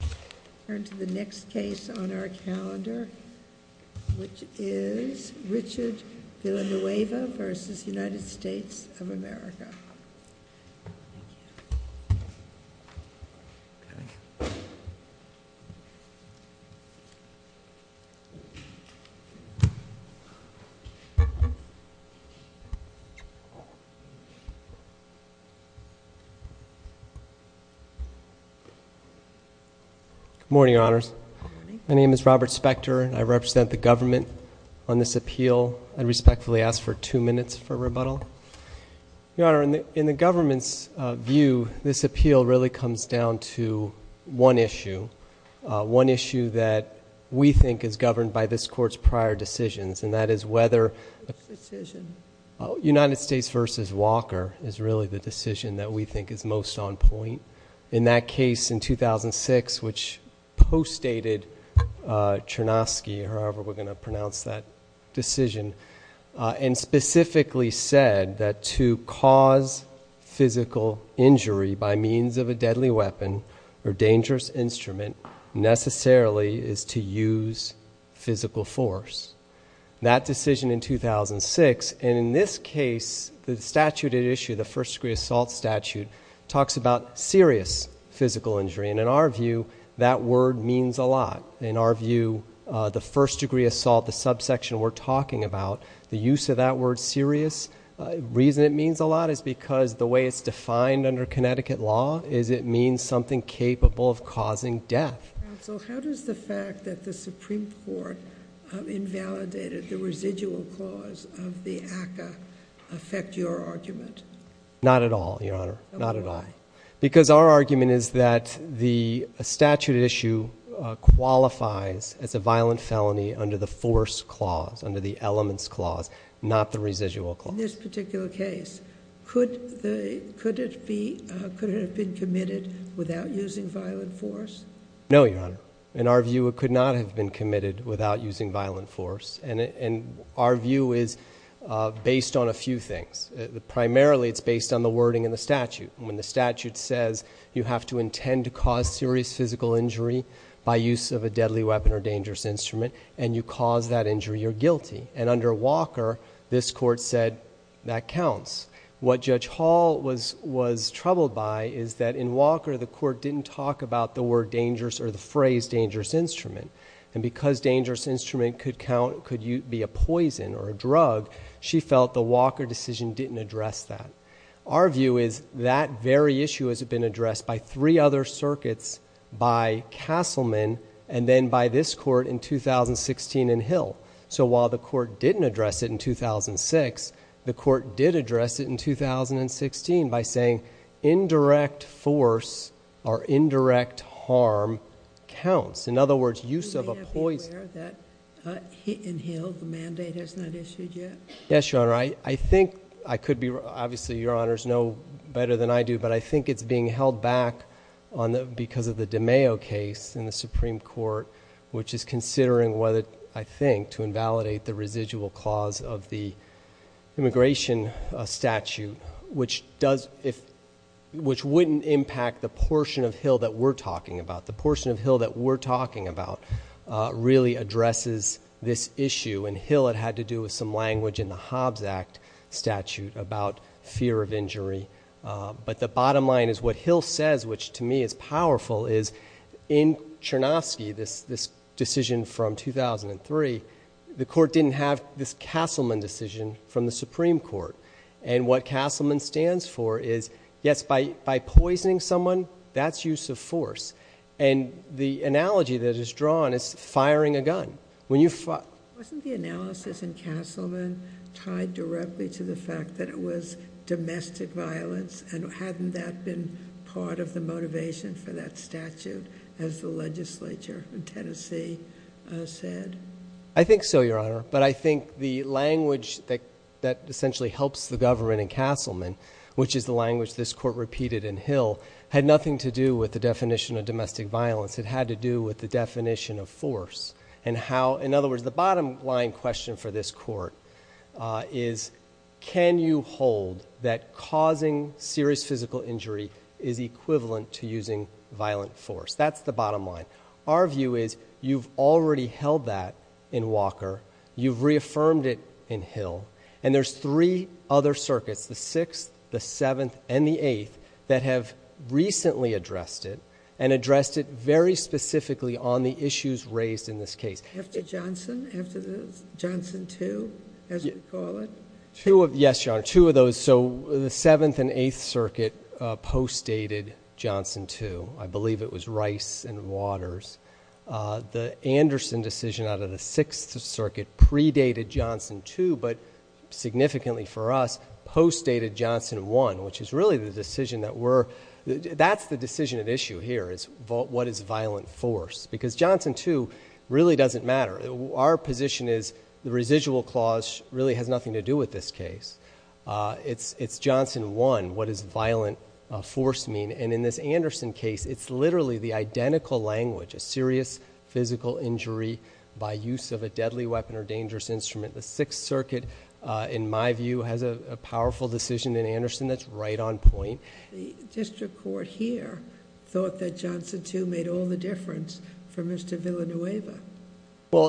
America. Good morning, Your Honors. Good morning. My name is Robert Spector. I represent the government on this appeal. I'd respectfully ask for two minutes for rebuttal. Your Honor, in the government's view, this appeal really comes down to one issue, one issue that we think is governed by this Court's prior decisions, and that is whether United States v. Walker is really the decision that we think is most on point. In that case in 2006, which postdated Chernovsky, however we're going to pronounce that decision, and specifically said that to cause physical injury by means of a deadly weapon or dangerous instrument necessarily is to use physical force. That decision in 2006, and in this case, the statute at issue, the First Degree Assault statute, talks about serious physical injury, and in our view, that word means a lot. In our view, the First Degree Assault, the subsection we're talking about, the use of that word serious, the reason it means a lot is because the way it's defined under Connecticut law is it means something capable of causing death. Counsel, how does the fact that the Supreme Court invalidated the residual clause of the ACCA affect your argument? Not at all, Your Honor. Not at all. Why? Because our argument is that the statute at issue qualifies as a violent felony under the force clause, under the elements clause, not the residual clause. In this particular case, could it have been committed without using violent force? No, Your Honor. In our view, it could not have been committed without using violent force, and our view is based on a few things. Primarily, it's based on the wording in the statute. When the statute says you have to intend to cause serious physical injury by use of a deadly weapon or dangerous instrument, and you cause that injury, you're guilty. Under Walker, this court said that counts. What Judge Hall was troubled by is that in Walker, the court didn't talk about the word dangerous or the phrase dangerous instrument, and because dangerous instrument could be a poison or a drug, she felt the Walker decision didn't address that. Our view is that very issue has been addressed by three other circuits, by Castleman, and then by this court in 2016 in Hill. While the court didn't address it in 2006, the court did address it in 2016 by saying indirect force or indirect harm counts. In Hill, the mandate has not issued yet? Yes, Your Honor. I think I could be... Obviously, Your Honors know better than I do, but I think it's being held back because of the DiMeo case in the Supreme Court, which is considering, I think, to invalidate the residual clause of the immigration statute, which wouldn't impact the portion of Hill that we're talking about. The portion of Hill that we're talking about really addresses this issue, and Hill, it had to do with some language in the Hobbs Act statute about fear of injury. The bottom line is what Hill says, which to me is powerful, is in Chernovsky, this decision from 2003, the court didn't have this Castleman decision from the Supreme Court. What Castleman stands for is, yes, by poisoning someone, that's use of force. The analogy that is drawn is firing a gun. When you... Wasn't the analysis in Castleman tied directly to the fact that it was domestic violence, and hadn't that been part of the motivation for that statute, as the legislature in Tennessee said? I think so, Your Honor, but I think the language that essentially helps the government in Castleman, which is the language this court repeated in Hill, had nothing to do with the definition of domestic violence. It had to do with the definition of force, and how... In other words, the bottom line question for this court is, can you hold that causing serious physical injury is equivalent to using violent force? That's the bottom line. Our view is, you've already held that in Walker, you've reaffirmed it in Hill, and there's three other circuits, the 6th, the 7th, and the 8th, that have recently addressed it, and addressed it very specifically on the issues raised in this case. After Johnson? After the Johnson 2, as you call it? Yes, Your Honor. Two of those. The 7th and 8th Circuit post-dated Johnson 2. I believe it was Rice and Waters. The Anderson decision out of the 6th Circuit predated Johnson 2, but significantly for us post-dated Johnson 1, which is really the decision that we're... That's the decision at issue here, is what is violent force? Because Johnson 2 really doesn't matter. Our position is the residual clause really has nothing to do with this case. It's Johnson 1, what does violent force mean? In this Anderson case, it's literally the identical language, a serious physical injury by use of a deadly weapon or dangerous instrument. The 6th Circuit, in my view, has a powerful decision in Anderson that's right on point. The district court here thought that Johnson 2 made all the difference for Mr. Villanueva.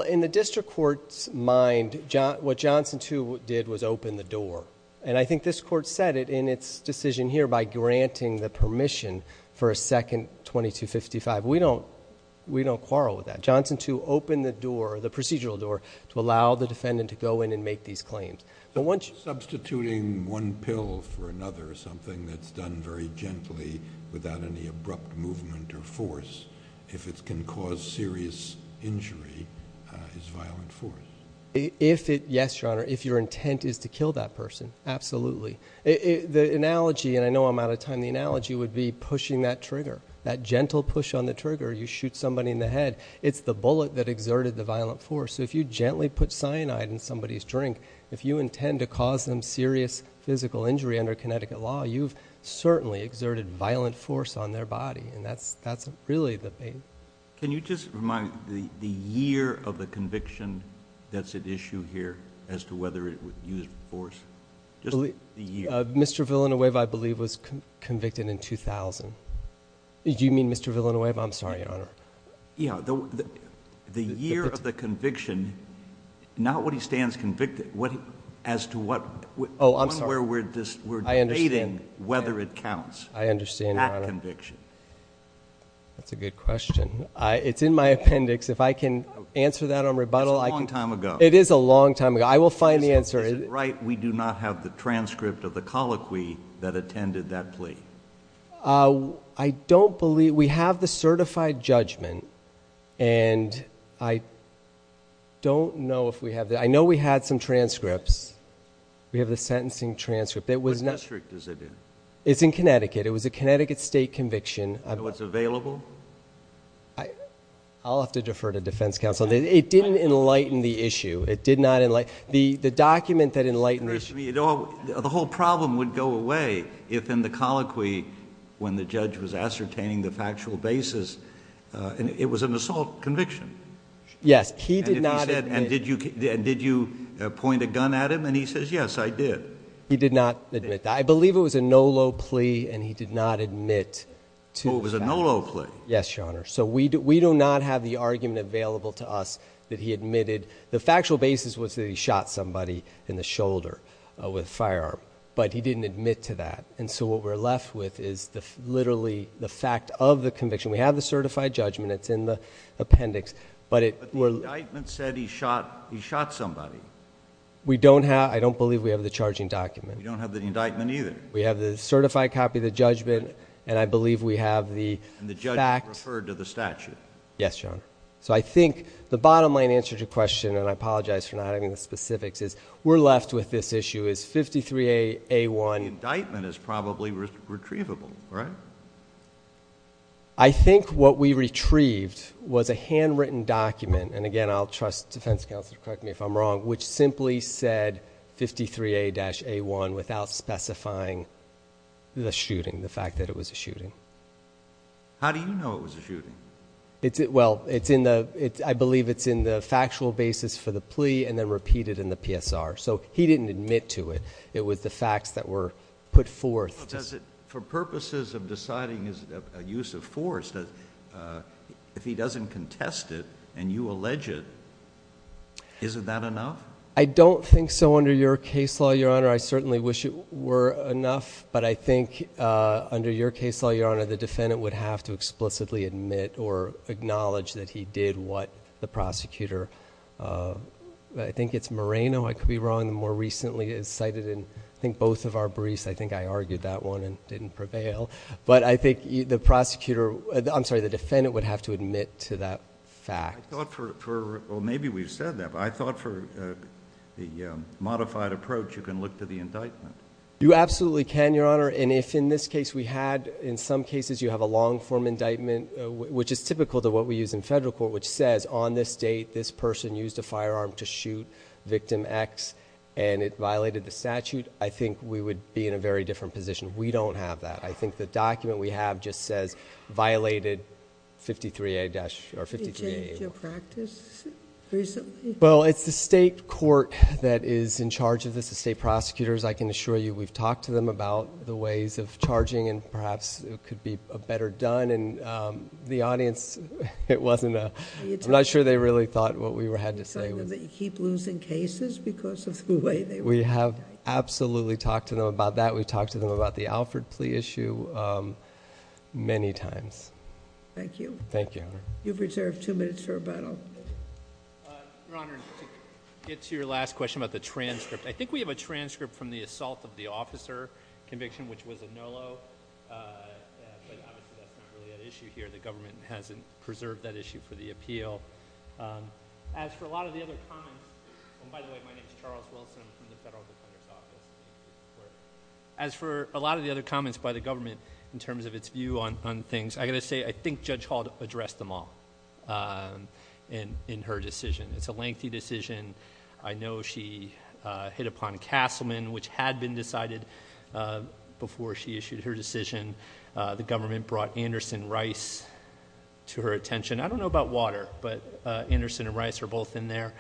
In the district court's mind, what Johnson 2 did was open the door. I think this court said it in its decision here by granting the permission for a second 2255. We don't quarrel with that. Johnson 2 opened the door, the procedural door, to allow the defendant to go in and make these claims. Once... Substituting one pill for another, something that's done very gently without any abrupt movement or force, if it can cause serious injury, is violent force. Yes, Your Honor, if your intent is to kill that person, absolutely. The analogy, and I know I'm out of time, the analogy would be pushing that trigger. That gentle push on the trigger, you shoot somebody in the head, it's the bullet that exerted the violent force. If you gently put cyanide in somebody's drink, if you intend to cause them serious physical injury under Connecticut law, you've certainly exerted violent force on their body. That's really the main... Can you just remind me the year of the conviction that's at issue here as to whether it would use force? Just the year. Mr. Villanueva, I believe, was convicted in 2000. You mean Mr. Villanueva? I'm sorry, Your Honor. Yeah. The year of the conviction, not what he stands convicted, as to what... Oh, I'm sorry. One where we're debating whether it counts. I understand, Your Honor. That conviction. That's a good question. It's in my appendix. If I can answer that on rebuttal... That's a long time ago. It is a long time ago. I will find the answer. Is it right we do not have the transcript of the colloquy that attended that plea? I don't believe... We have the certified judgment, and I don't know if we have the... I know we had some transcripts. We have the sentencing transcript. Which district is it in? It's in Connecticut. It was a Connecticut State conviction. Do you know what's available? I'll have to defer to defense counsel. It didn't enlighten the issue. It did not enlighten... The document that enlightened the issue... The whole problem would go away if in the colloquy, when the judge was ascertaining the factual basis, it was an assault conviction. Yes. He did not admit... And did you point a gun at him, and he says, yes, I did? He did not admit that. I believe it was a NOLO plea, and he did not admit to... Oh, it was a NOLO plea? Yes, Your Honor. So we do not have the argument available to us that he admitted... The factual basis was that he shot somebody in the shoulder with a firearm, but he didn't admit to that. And so what we're left with is literally the fact of the conviction. We have the certified judgment. It's in the appendix, but it... But the indictment said he shot somebody. We don't have... I don't believe we have the charging document. We don't have the indictment either. We have the certified copy of the judgment, and I believe we have the fact... And the judge referred to the statute. Yes, Your Honor. So I think the bottom line answer to your question, and I apologize for not having the specifics, is we're left with this issue. Is 53A1... The indictment is probably retrievable, right? I think what we retrieved was a handwritten document, and again, I'll trust defense counsel to correct me if I'm wrong, which simply said 53A-A1 without specifying the shooting, the fact that it was a shooting. How do you know it was a shooting? Well, it's in the... I believe it's in the factual basis for the plea, and then repeated in the PSR. So he didn't admit to it. It was the facts that were put forth... For purposes of deciding a use of force, if he doesn't contest it, and you allege it, isn't that enough? I don't think so under your case law, Your Honor. I certainly wish it were enough, but I think under your case law, Your Honor, the defendant would have to explicitly admit or acknowledge that he did what the prosecutor... I think it's Moreno I could be wrong, the more recently cited, and I think both of our briefs, I think I argued that one and didn't prevail. But I think the prosecutor... I'm sorry, the defendant would have to admit to that fact. I thought for... well, maybe we've said that, but I thought for the modified approach you can look to the indictment. You absolutely can, Your Honor, and if in this case we had... in some cases you have a long-form indictment, which is typical to what we use in federal court, which says, on this date, this person used a firearm to shoot victim X, and it violated the statute, I think we would be in a very different position. We don't have that. I think the document we have just says, violated 53A or 53A... Did you change your practice recently? Well, it's the state court that is in charge of this, the state prosecutors, I can assure you we've talked to them about the ways of charging and perhaps it could be a better done, and the audience, it wasn't a... I'm not sure they really thought what we had to say. Are you telling them that you keep losing cases because of the way they... We have absolutely talked to them about that. We've talked to them about the Alford plea issue many times. Thank you. Thank you, Your Honor. You've reserved two minutes for rebuttal. Your Honor, to get to your last question about the transcript, I think we have a transcript from the assault of the officer conviction, which was a no-low, but obviously that's not really an issue here. The government hasn't preserved that issue for the appeal. As for a lot of the other comments... and by the way, my name is Charles Wilson. I'm from the Federal Defender's Office. As for a lot of the other comments by the government in terms of its view on things, I've got to say, I think Judge Hall addressed them all in her decision. It's a lengthy decision. I know she hit upon Castleman, which had been decided before she issued her decision. The government brought Anderson Rice to her attention. I don't know about Water, but Anderson and Rice are both in there.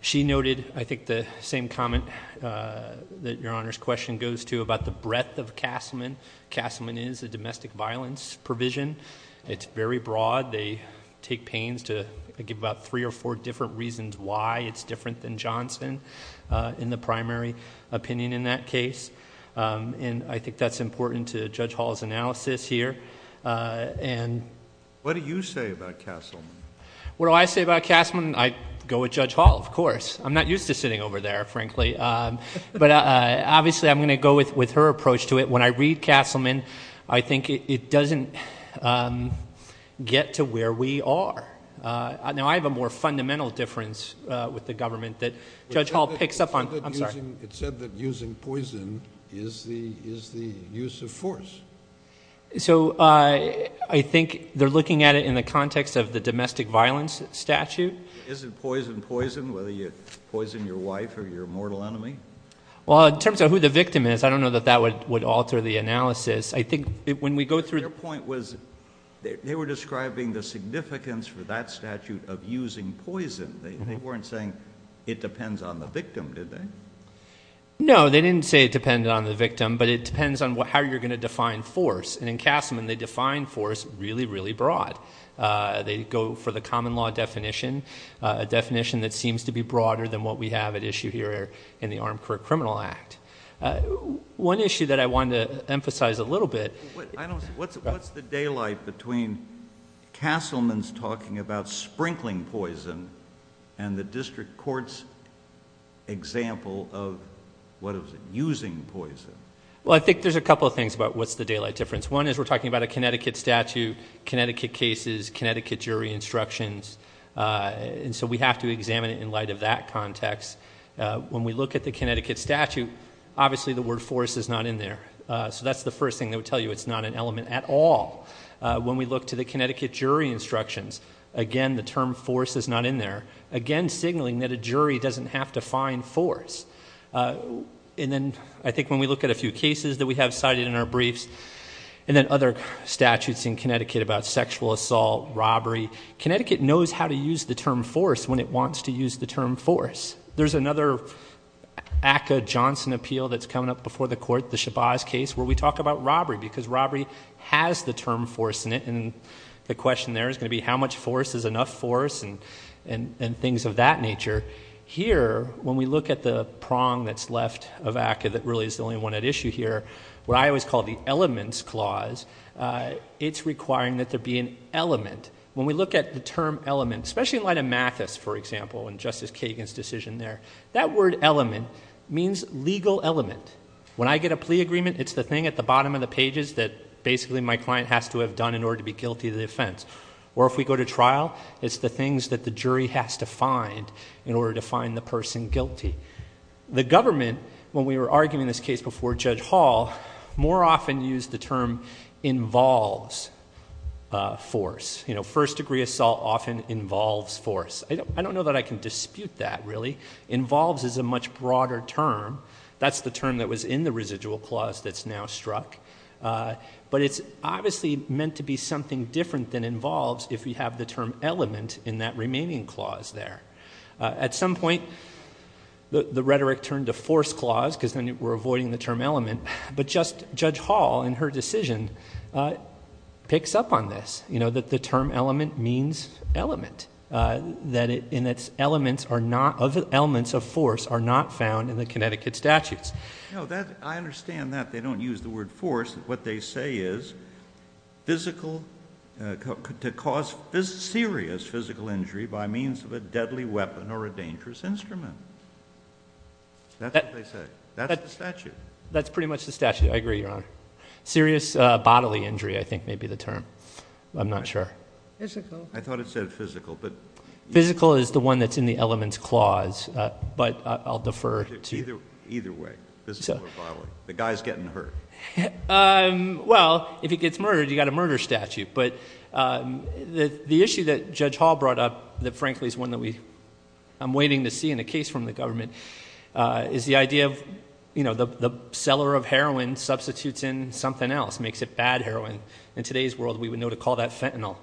She noted, I think, the same comment that Your Honor's question goes to about the breadth of Castleman. Castleman is a domestic violence provision. It's very broad. They take pains to give about three or four different reasons why it's different than Johnson in the primary opinion in that case. I think that's important to Judge Hall's analysis here. What do you say about Castleman? What do I say about Castleman? I'd go with Judge Hall, of course. I'm not used to sitting over there, frankly, but obviously, I'm going to go with her approach to it. When I read Castleman, I think it doesn't get to where we are. Now, I have a more fundamental difference with the government that Judge Hall picks up on. I'm sorry. It said that using poison is the use of force. I think they're looking at it in the context of the domestic violence statute. Is it poison, poison, whether you poison your wife or your mortal enemy? In terms of who the victim is, I don't know that that would alter the analysis. I think when we go through... Their point was they were describing the significance for that statute of using poison. They weren't saying it depends on the victim, did they? No, they didn't say it depended on the victim, but it depends on how you're going to define force. In Castleman, they define force really, really broad. They go for the common law definition, a definition that seems to be broader than what we have at issue here in the Armed Criminal Act. One issue that I wanted to emphasize a little bit... What's the daylight between Castleman's talking about sprinkling poison and the district court's example of using poison? I think there's a couple of things about what's the daylight difference. One is we're talking about a Connecticut statute, Connecticut cases, Connecticut jury instructions. We have to examine it in light of that context. When we look at the Connecticut statute, obviously the word force is not in there. That's the first thing they would tell you. It's not an element at all. When we look to the Connecticut jury instructions, again, the term force is not in there, again signaling that a jury doesn't have to find force. I think when we look at a few cases that we have cited in our briefs and then other statutes in Connecticut about sexual assault, robbery, Connecticut knows how to use the term force when it wants to use the term force. There's another ACA Johnson appeal that's coming up before the court, the Shabazz case, where we talk about robbery because robbery has the term force in it. The question there is going to be how much force is enough force and things of that nature. Here, when we look at the prong that's left of ACA that really is the only one at issue here, what I always call the elements clause, it's requiring that there be an element. When we look at the term element, especially in light of Mathis, for example, and Justice Kagan's decision there, that word element means legal element. When I get a plea agreement, it's the thing at the bottom of the pages that basically my client has to have done in order to be guilty of the offense. Or if we go to trial, it's the things that the jury has to find in order to find the person guilty. The government, when we were arguing this case before Judge Hall, more often used the term involves force. First degree assault often involves force. I don't know that I can dispute that really. Involves is a much broader term. That's the term that was in the residual clause that's now struck. It's obviously meant to be something different than involves if you have the term element in that remaining clause there. At some point, the rhetoric turned to force clause because then we're avoiding the term element, but Judge Hall in her decision picks up on this, that the term element means element, that in its elements of force are not found in the Connecticut statutes. I understand that they don't use the word force. What they say is to cause serious physical injury by means of a deadly weapon or a dangerous instrument. That's what they say. That's the statute. That's pretty much the statute. I agree, Your Honor. Serious bodily injury, I think, may be the term. I'm not sure. Physical. I thought it said physical. Physical is the one that's in the elements clause, but I'll defer to you. Either way, physical or bodily, the guy's getting hurt. Well, if he gets murdered, you got a murder statute, but the issue that Judge Hall brought up that, frankly, is one that I'm waiting to see in a case from the government is the idea of the seller of heroin substitutes in something else, makes it bad heroin. In today's world, we would know to call that fentanyl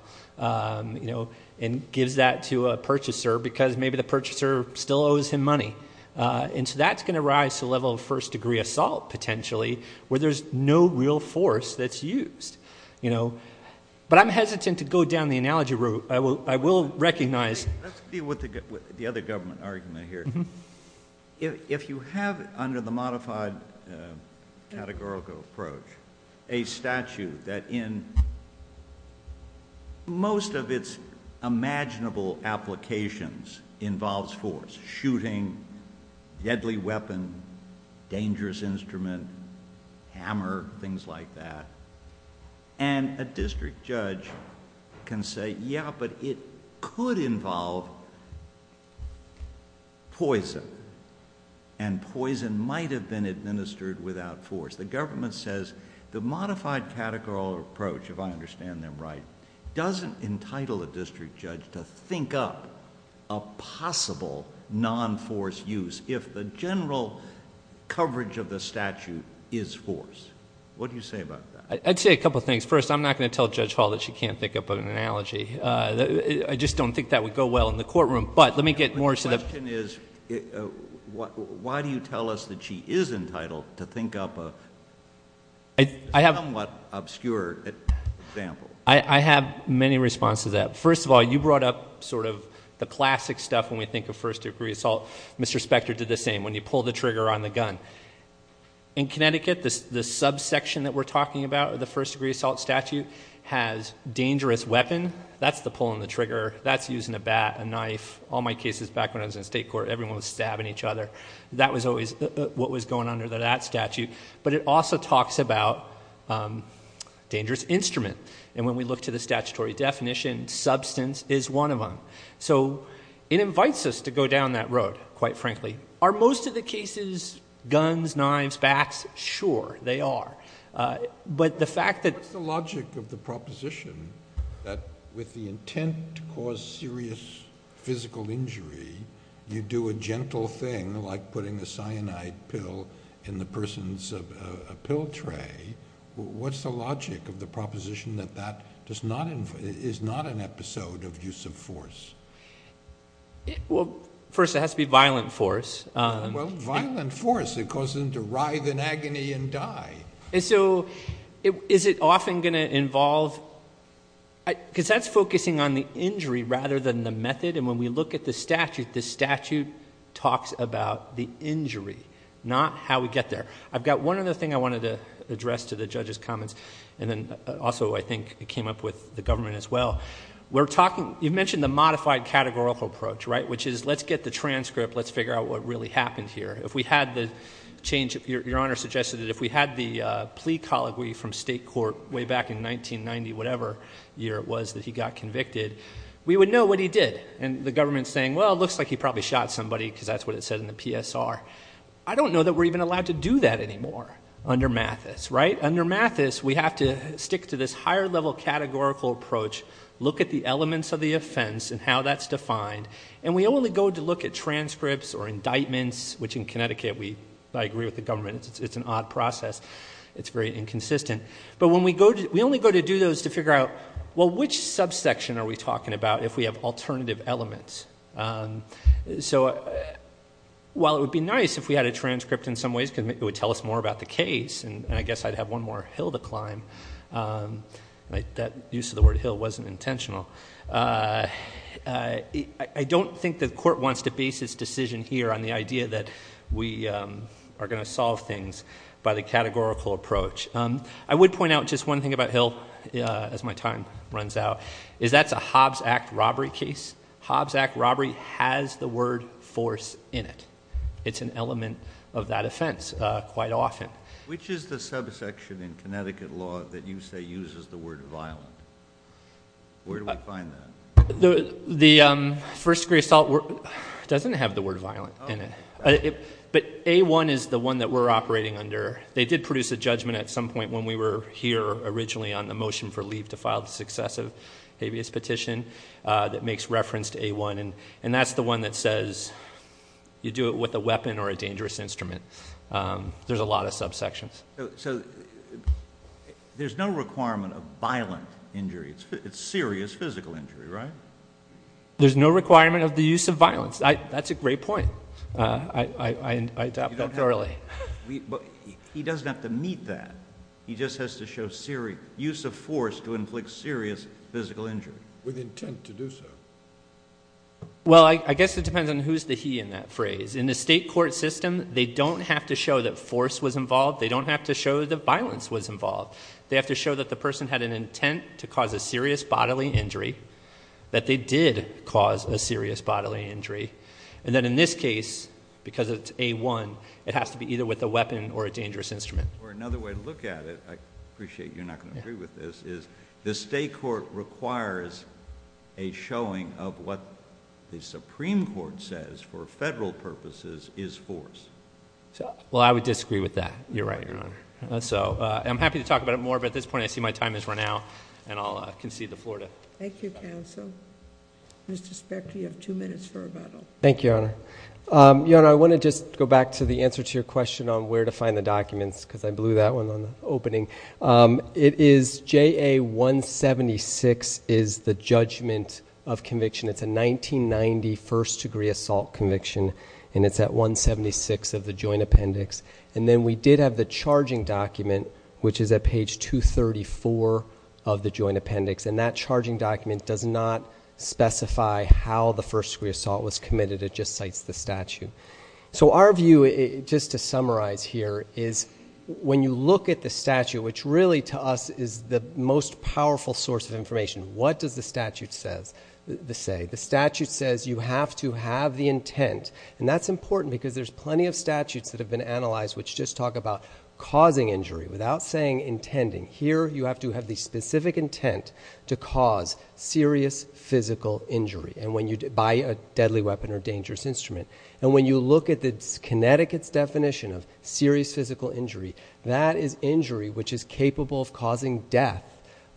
and gives that to a purchaser because maybe the purchaser still owes him money. That's going to rise to the level of first-degree assault, potentially, where there's no real force that's used. I'm hesitant to go down the analogy route. I will recognize- Let's deal with the other government argument here. If you have, under the modified categorical approach, a statute that in most of its imaginable applications involves force, shooting, deadly weapon, dangerous instrument, hammer, things like that, and a district judge can say, yeah, but it could involve poison, and poison might have been administered without force. The government says the modified categorical approach, if I understand them right, doesn't entitle a district judge to think up a possible non-force use if the general coverage of the statute is force. What do you say about that? I'd say a couple of things. First, I'm not going to tell Judge Hall that she can't think up an analogy. I just don't think that would go well in the courtroom, but let me get more... The question is, why do you tell us that she is entitled to think up a somewhat obscure example? I have many responses to that. First of all, you brought up the classic stuff when we think of first degree assault. Mr. Spector did the same, when you pull the trigger on the gun. In Connecticut, the subsection that we're talking about, the first degree assault statute, has dangerous weapon. That's the pulling the trigger. That's using a bat, a knife. All my cases back when I was in state court, everyone was stabbing each other. That was always what was going under that statute, but it also talks about dangerous instrument. When we look to the statutory definition, substance is one of them. It invites us to go down that road, quite frankly. Are most of the cases guns, knives, bats? Sure, they are. But the fact that... What's the logic of the proposition that with the intent to cause serious physical injury, you do a gentle thing like putting a cyanide pill in the person's pill tray? What's the logic of the proposition that that is not an episode of use of force? First, it has to be violent force. Well, violent force, it causes them to writhe in agony and die. Is it often going to involve... because that's focusing on the injury rather than the method, and when we look at the statute, the statute talks about the injury, not how we get there. I've got one other thing I wanted to address to the judge's comments, and then also I think it came up with the government as well. You mentioned the modified categorical approach, which is let's get the transcript, let's figure out what really happened here. If we had the change... Your Honor suggested that if we had the plea colloquy from state court way back in 1990, whatever year it was that he got convicted, we would know what he did. The government's saying, well, it looks like he probably shot somebody because that's what it said in the PSR. I don't know that we're even allowed to do that anymore under Mathis, right? Under Mathis, we have to stick to this higher level categorical approach, look at the elements of the offense and how that's defined, and we only go to look at transcripts or indictments, which in Connecticut, I agree with the government, it's an odd process. It's very inconsistent. But when we go to... we only go to do those to figure out, well, which subsection are we talking about if we have alternative elements? While it would be nice if we had a transcript in some ways because it would tell us more about the case, and I guess I'd have one more hill to climb, that use of the word hill wasn't intentional, I don't think the court wants to base its decision here on the idea that we are going to solve things by the categorical approach. I would point out just one thing about Hill, as my time runs out, is that's a Hobbs Act robbery case. Hobbs Act robbery has the word force in it. It's an element of that offense, quite often. Which is the subsection in Connecticut law that you say uses the word violent? Where do we find that? The first degree assault... doesn't have the word violent in it, but A-1 is the one that we're operating under. They did produce a judgment at some point when we were here originally on the motion for leave to file the successive habeas petition that makes reference to A-1. That's the one that says you do it with a weapon or a dangerous instrument. There's a lot of subsections. There's no requirement of violent injury. It's serious physical injury, right? There's no requirement of the use of violence. That's a great point. I adopted that early. He doesn't have to meet that. He just has to show use of force to inflict serious physical injury. With intent to do so. Well, I guess it depends on who's the he in that phrase. In the state court system, they don't have to show that force was involved. They don't have to show that violence was involved. They have to show that the person had an intent to cause a serious bodily injury, that they did cause a serious bodily injury, and that in this case, because it's A-1, it has to be either with a weapon or a dangerous instrument. Another way to look at it, I appreciate you're not going to agree with this, is the state court requires a showing of what the Supreme Court says, for federal purposes, is force. Well, I would disagree with that. You're right, Your Honor. I'm happy to talk about it more, but at this point, I see my time has run out, and I'll concede the floor. Thank you, counsel. Mr. Speck, you have two minutes for rebuttal. Thank you, Your Honor. Your Honor, I want to just go back to the answer to your question on where to find the statute. I blew that one on the opening. It is JA-176 is the judgment of conviction. It's a 1990 first degree assault conviction, and it's at 176 of the joint appendix. And then we did have the charging document, which is at page 234 of the joint appendix, and that charging document does not specify how the first degree assault was committed. It just cites the statute. So our view, just to summarize here, is when you look at the statute, which really to us is the most powerful source of information, what does the statute say? The statute says you have to have the intent, and that's important because there's plenty of statutes that have been analyzed which just talk about causing injury without saying intending. Here, you have to have the specific intent to cause serious physical injury by a deadly weapon or dangerous instrument. And when you look at Connecticut's definition of serious physical injury, that is injury which is capable of causing death,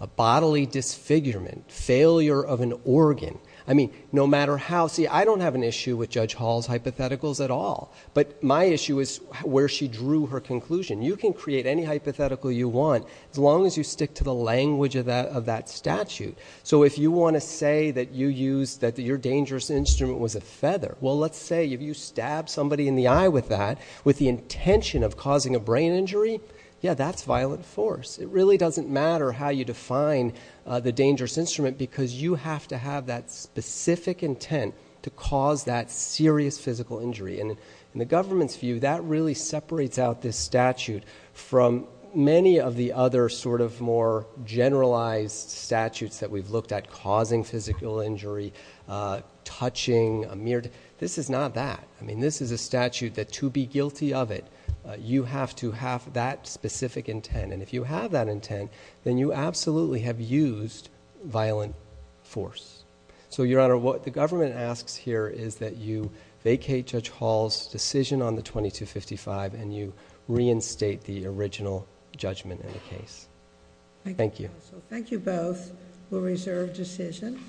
a bodily disfigurement, failure of an organ, I mean, no matter how. See, I don't have an issue with Judge Hall's hypotheticals at all, but my issue is where she drew her conclusion. You can create any hypothetical you want as long as you stick to the language of that statute. So if you want to say that you used, that your dangerous instrument was a feather, well, let's say if you stab somebody in the eye with that, with the intention of causing a brain injury, yeah, that's violent force. It really doesn't matter how you define the dangerous instrument because you have to have that specific intent to cause that serious physical injury. And in the government's view, that really separates out this statute from many of the other sort of more generalized statutes that we've looked at causing physical injury, touching. This is not that. I mean, this is a statute that to be guilty of it, you have to have that specific intent. And if you have that intent, then you absolutely have used violent force. So Your Honor, what the government asks here is that you vacate Judge Hall's decision on the 2255 and you reinstate the original judgment in the case. Thank you. Thank you both. We'll reserve decision.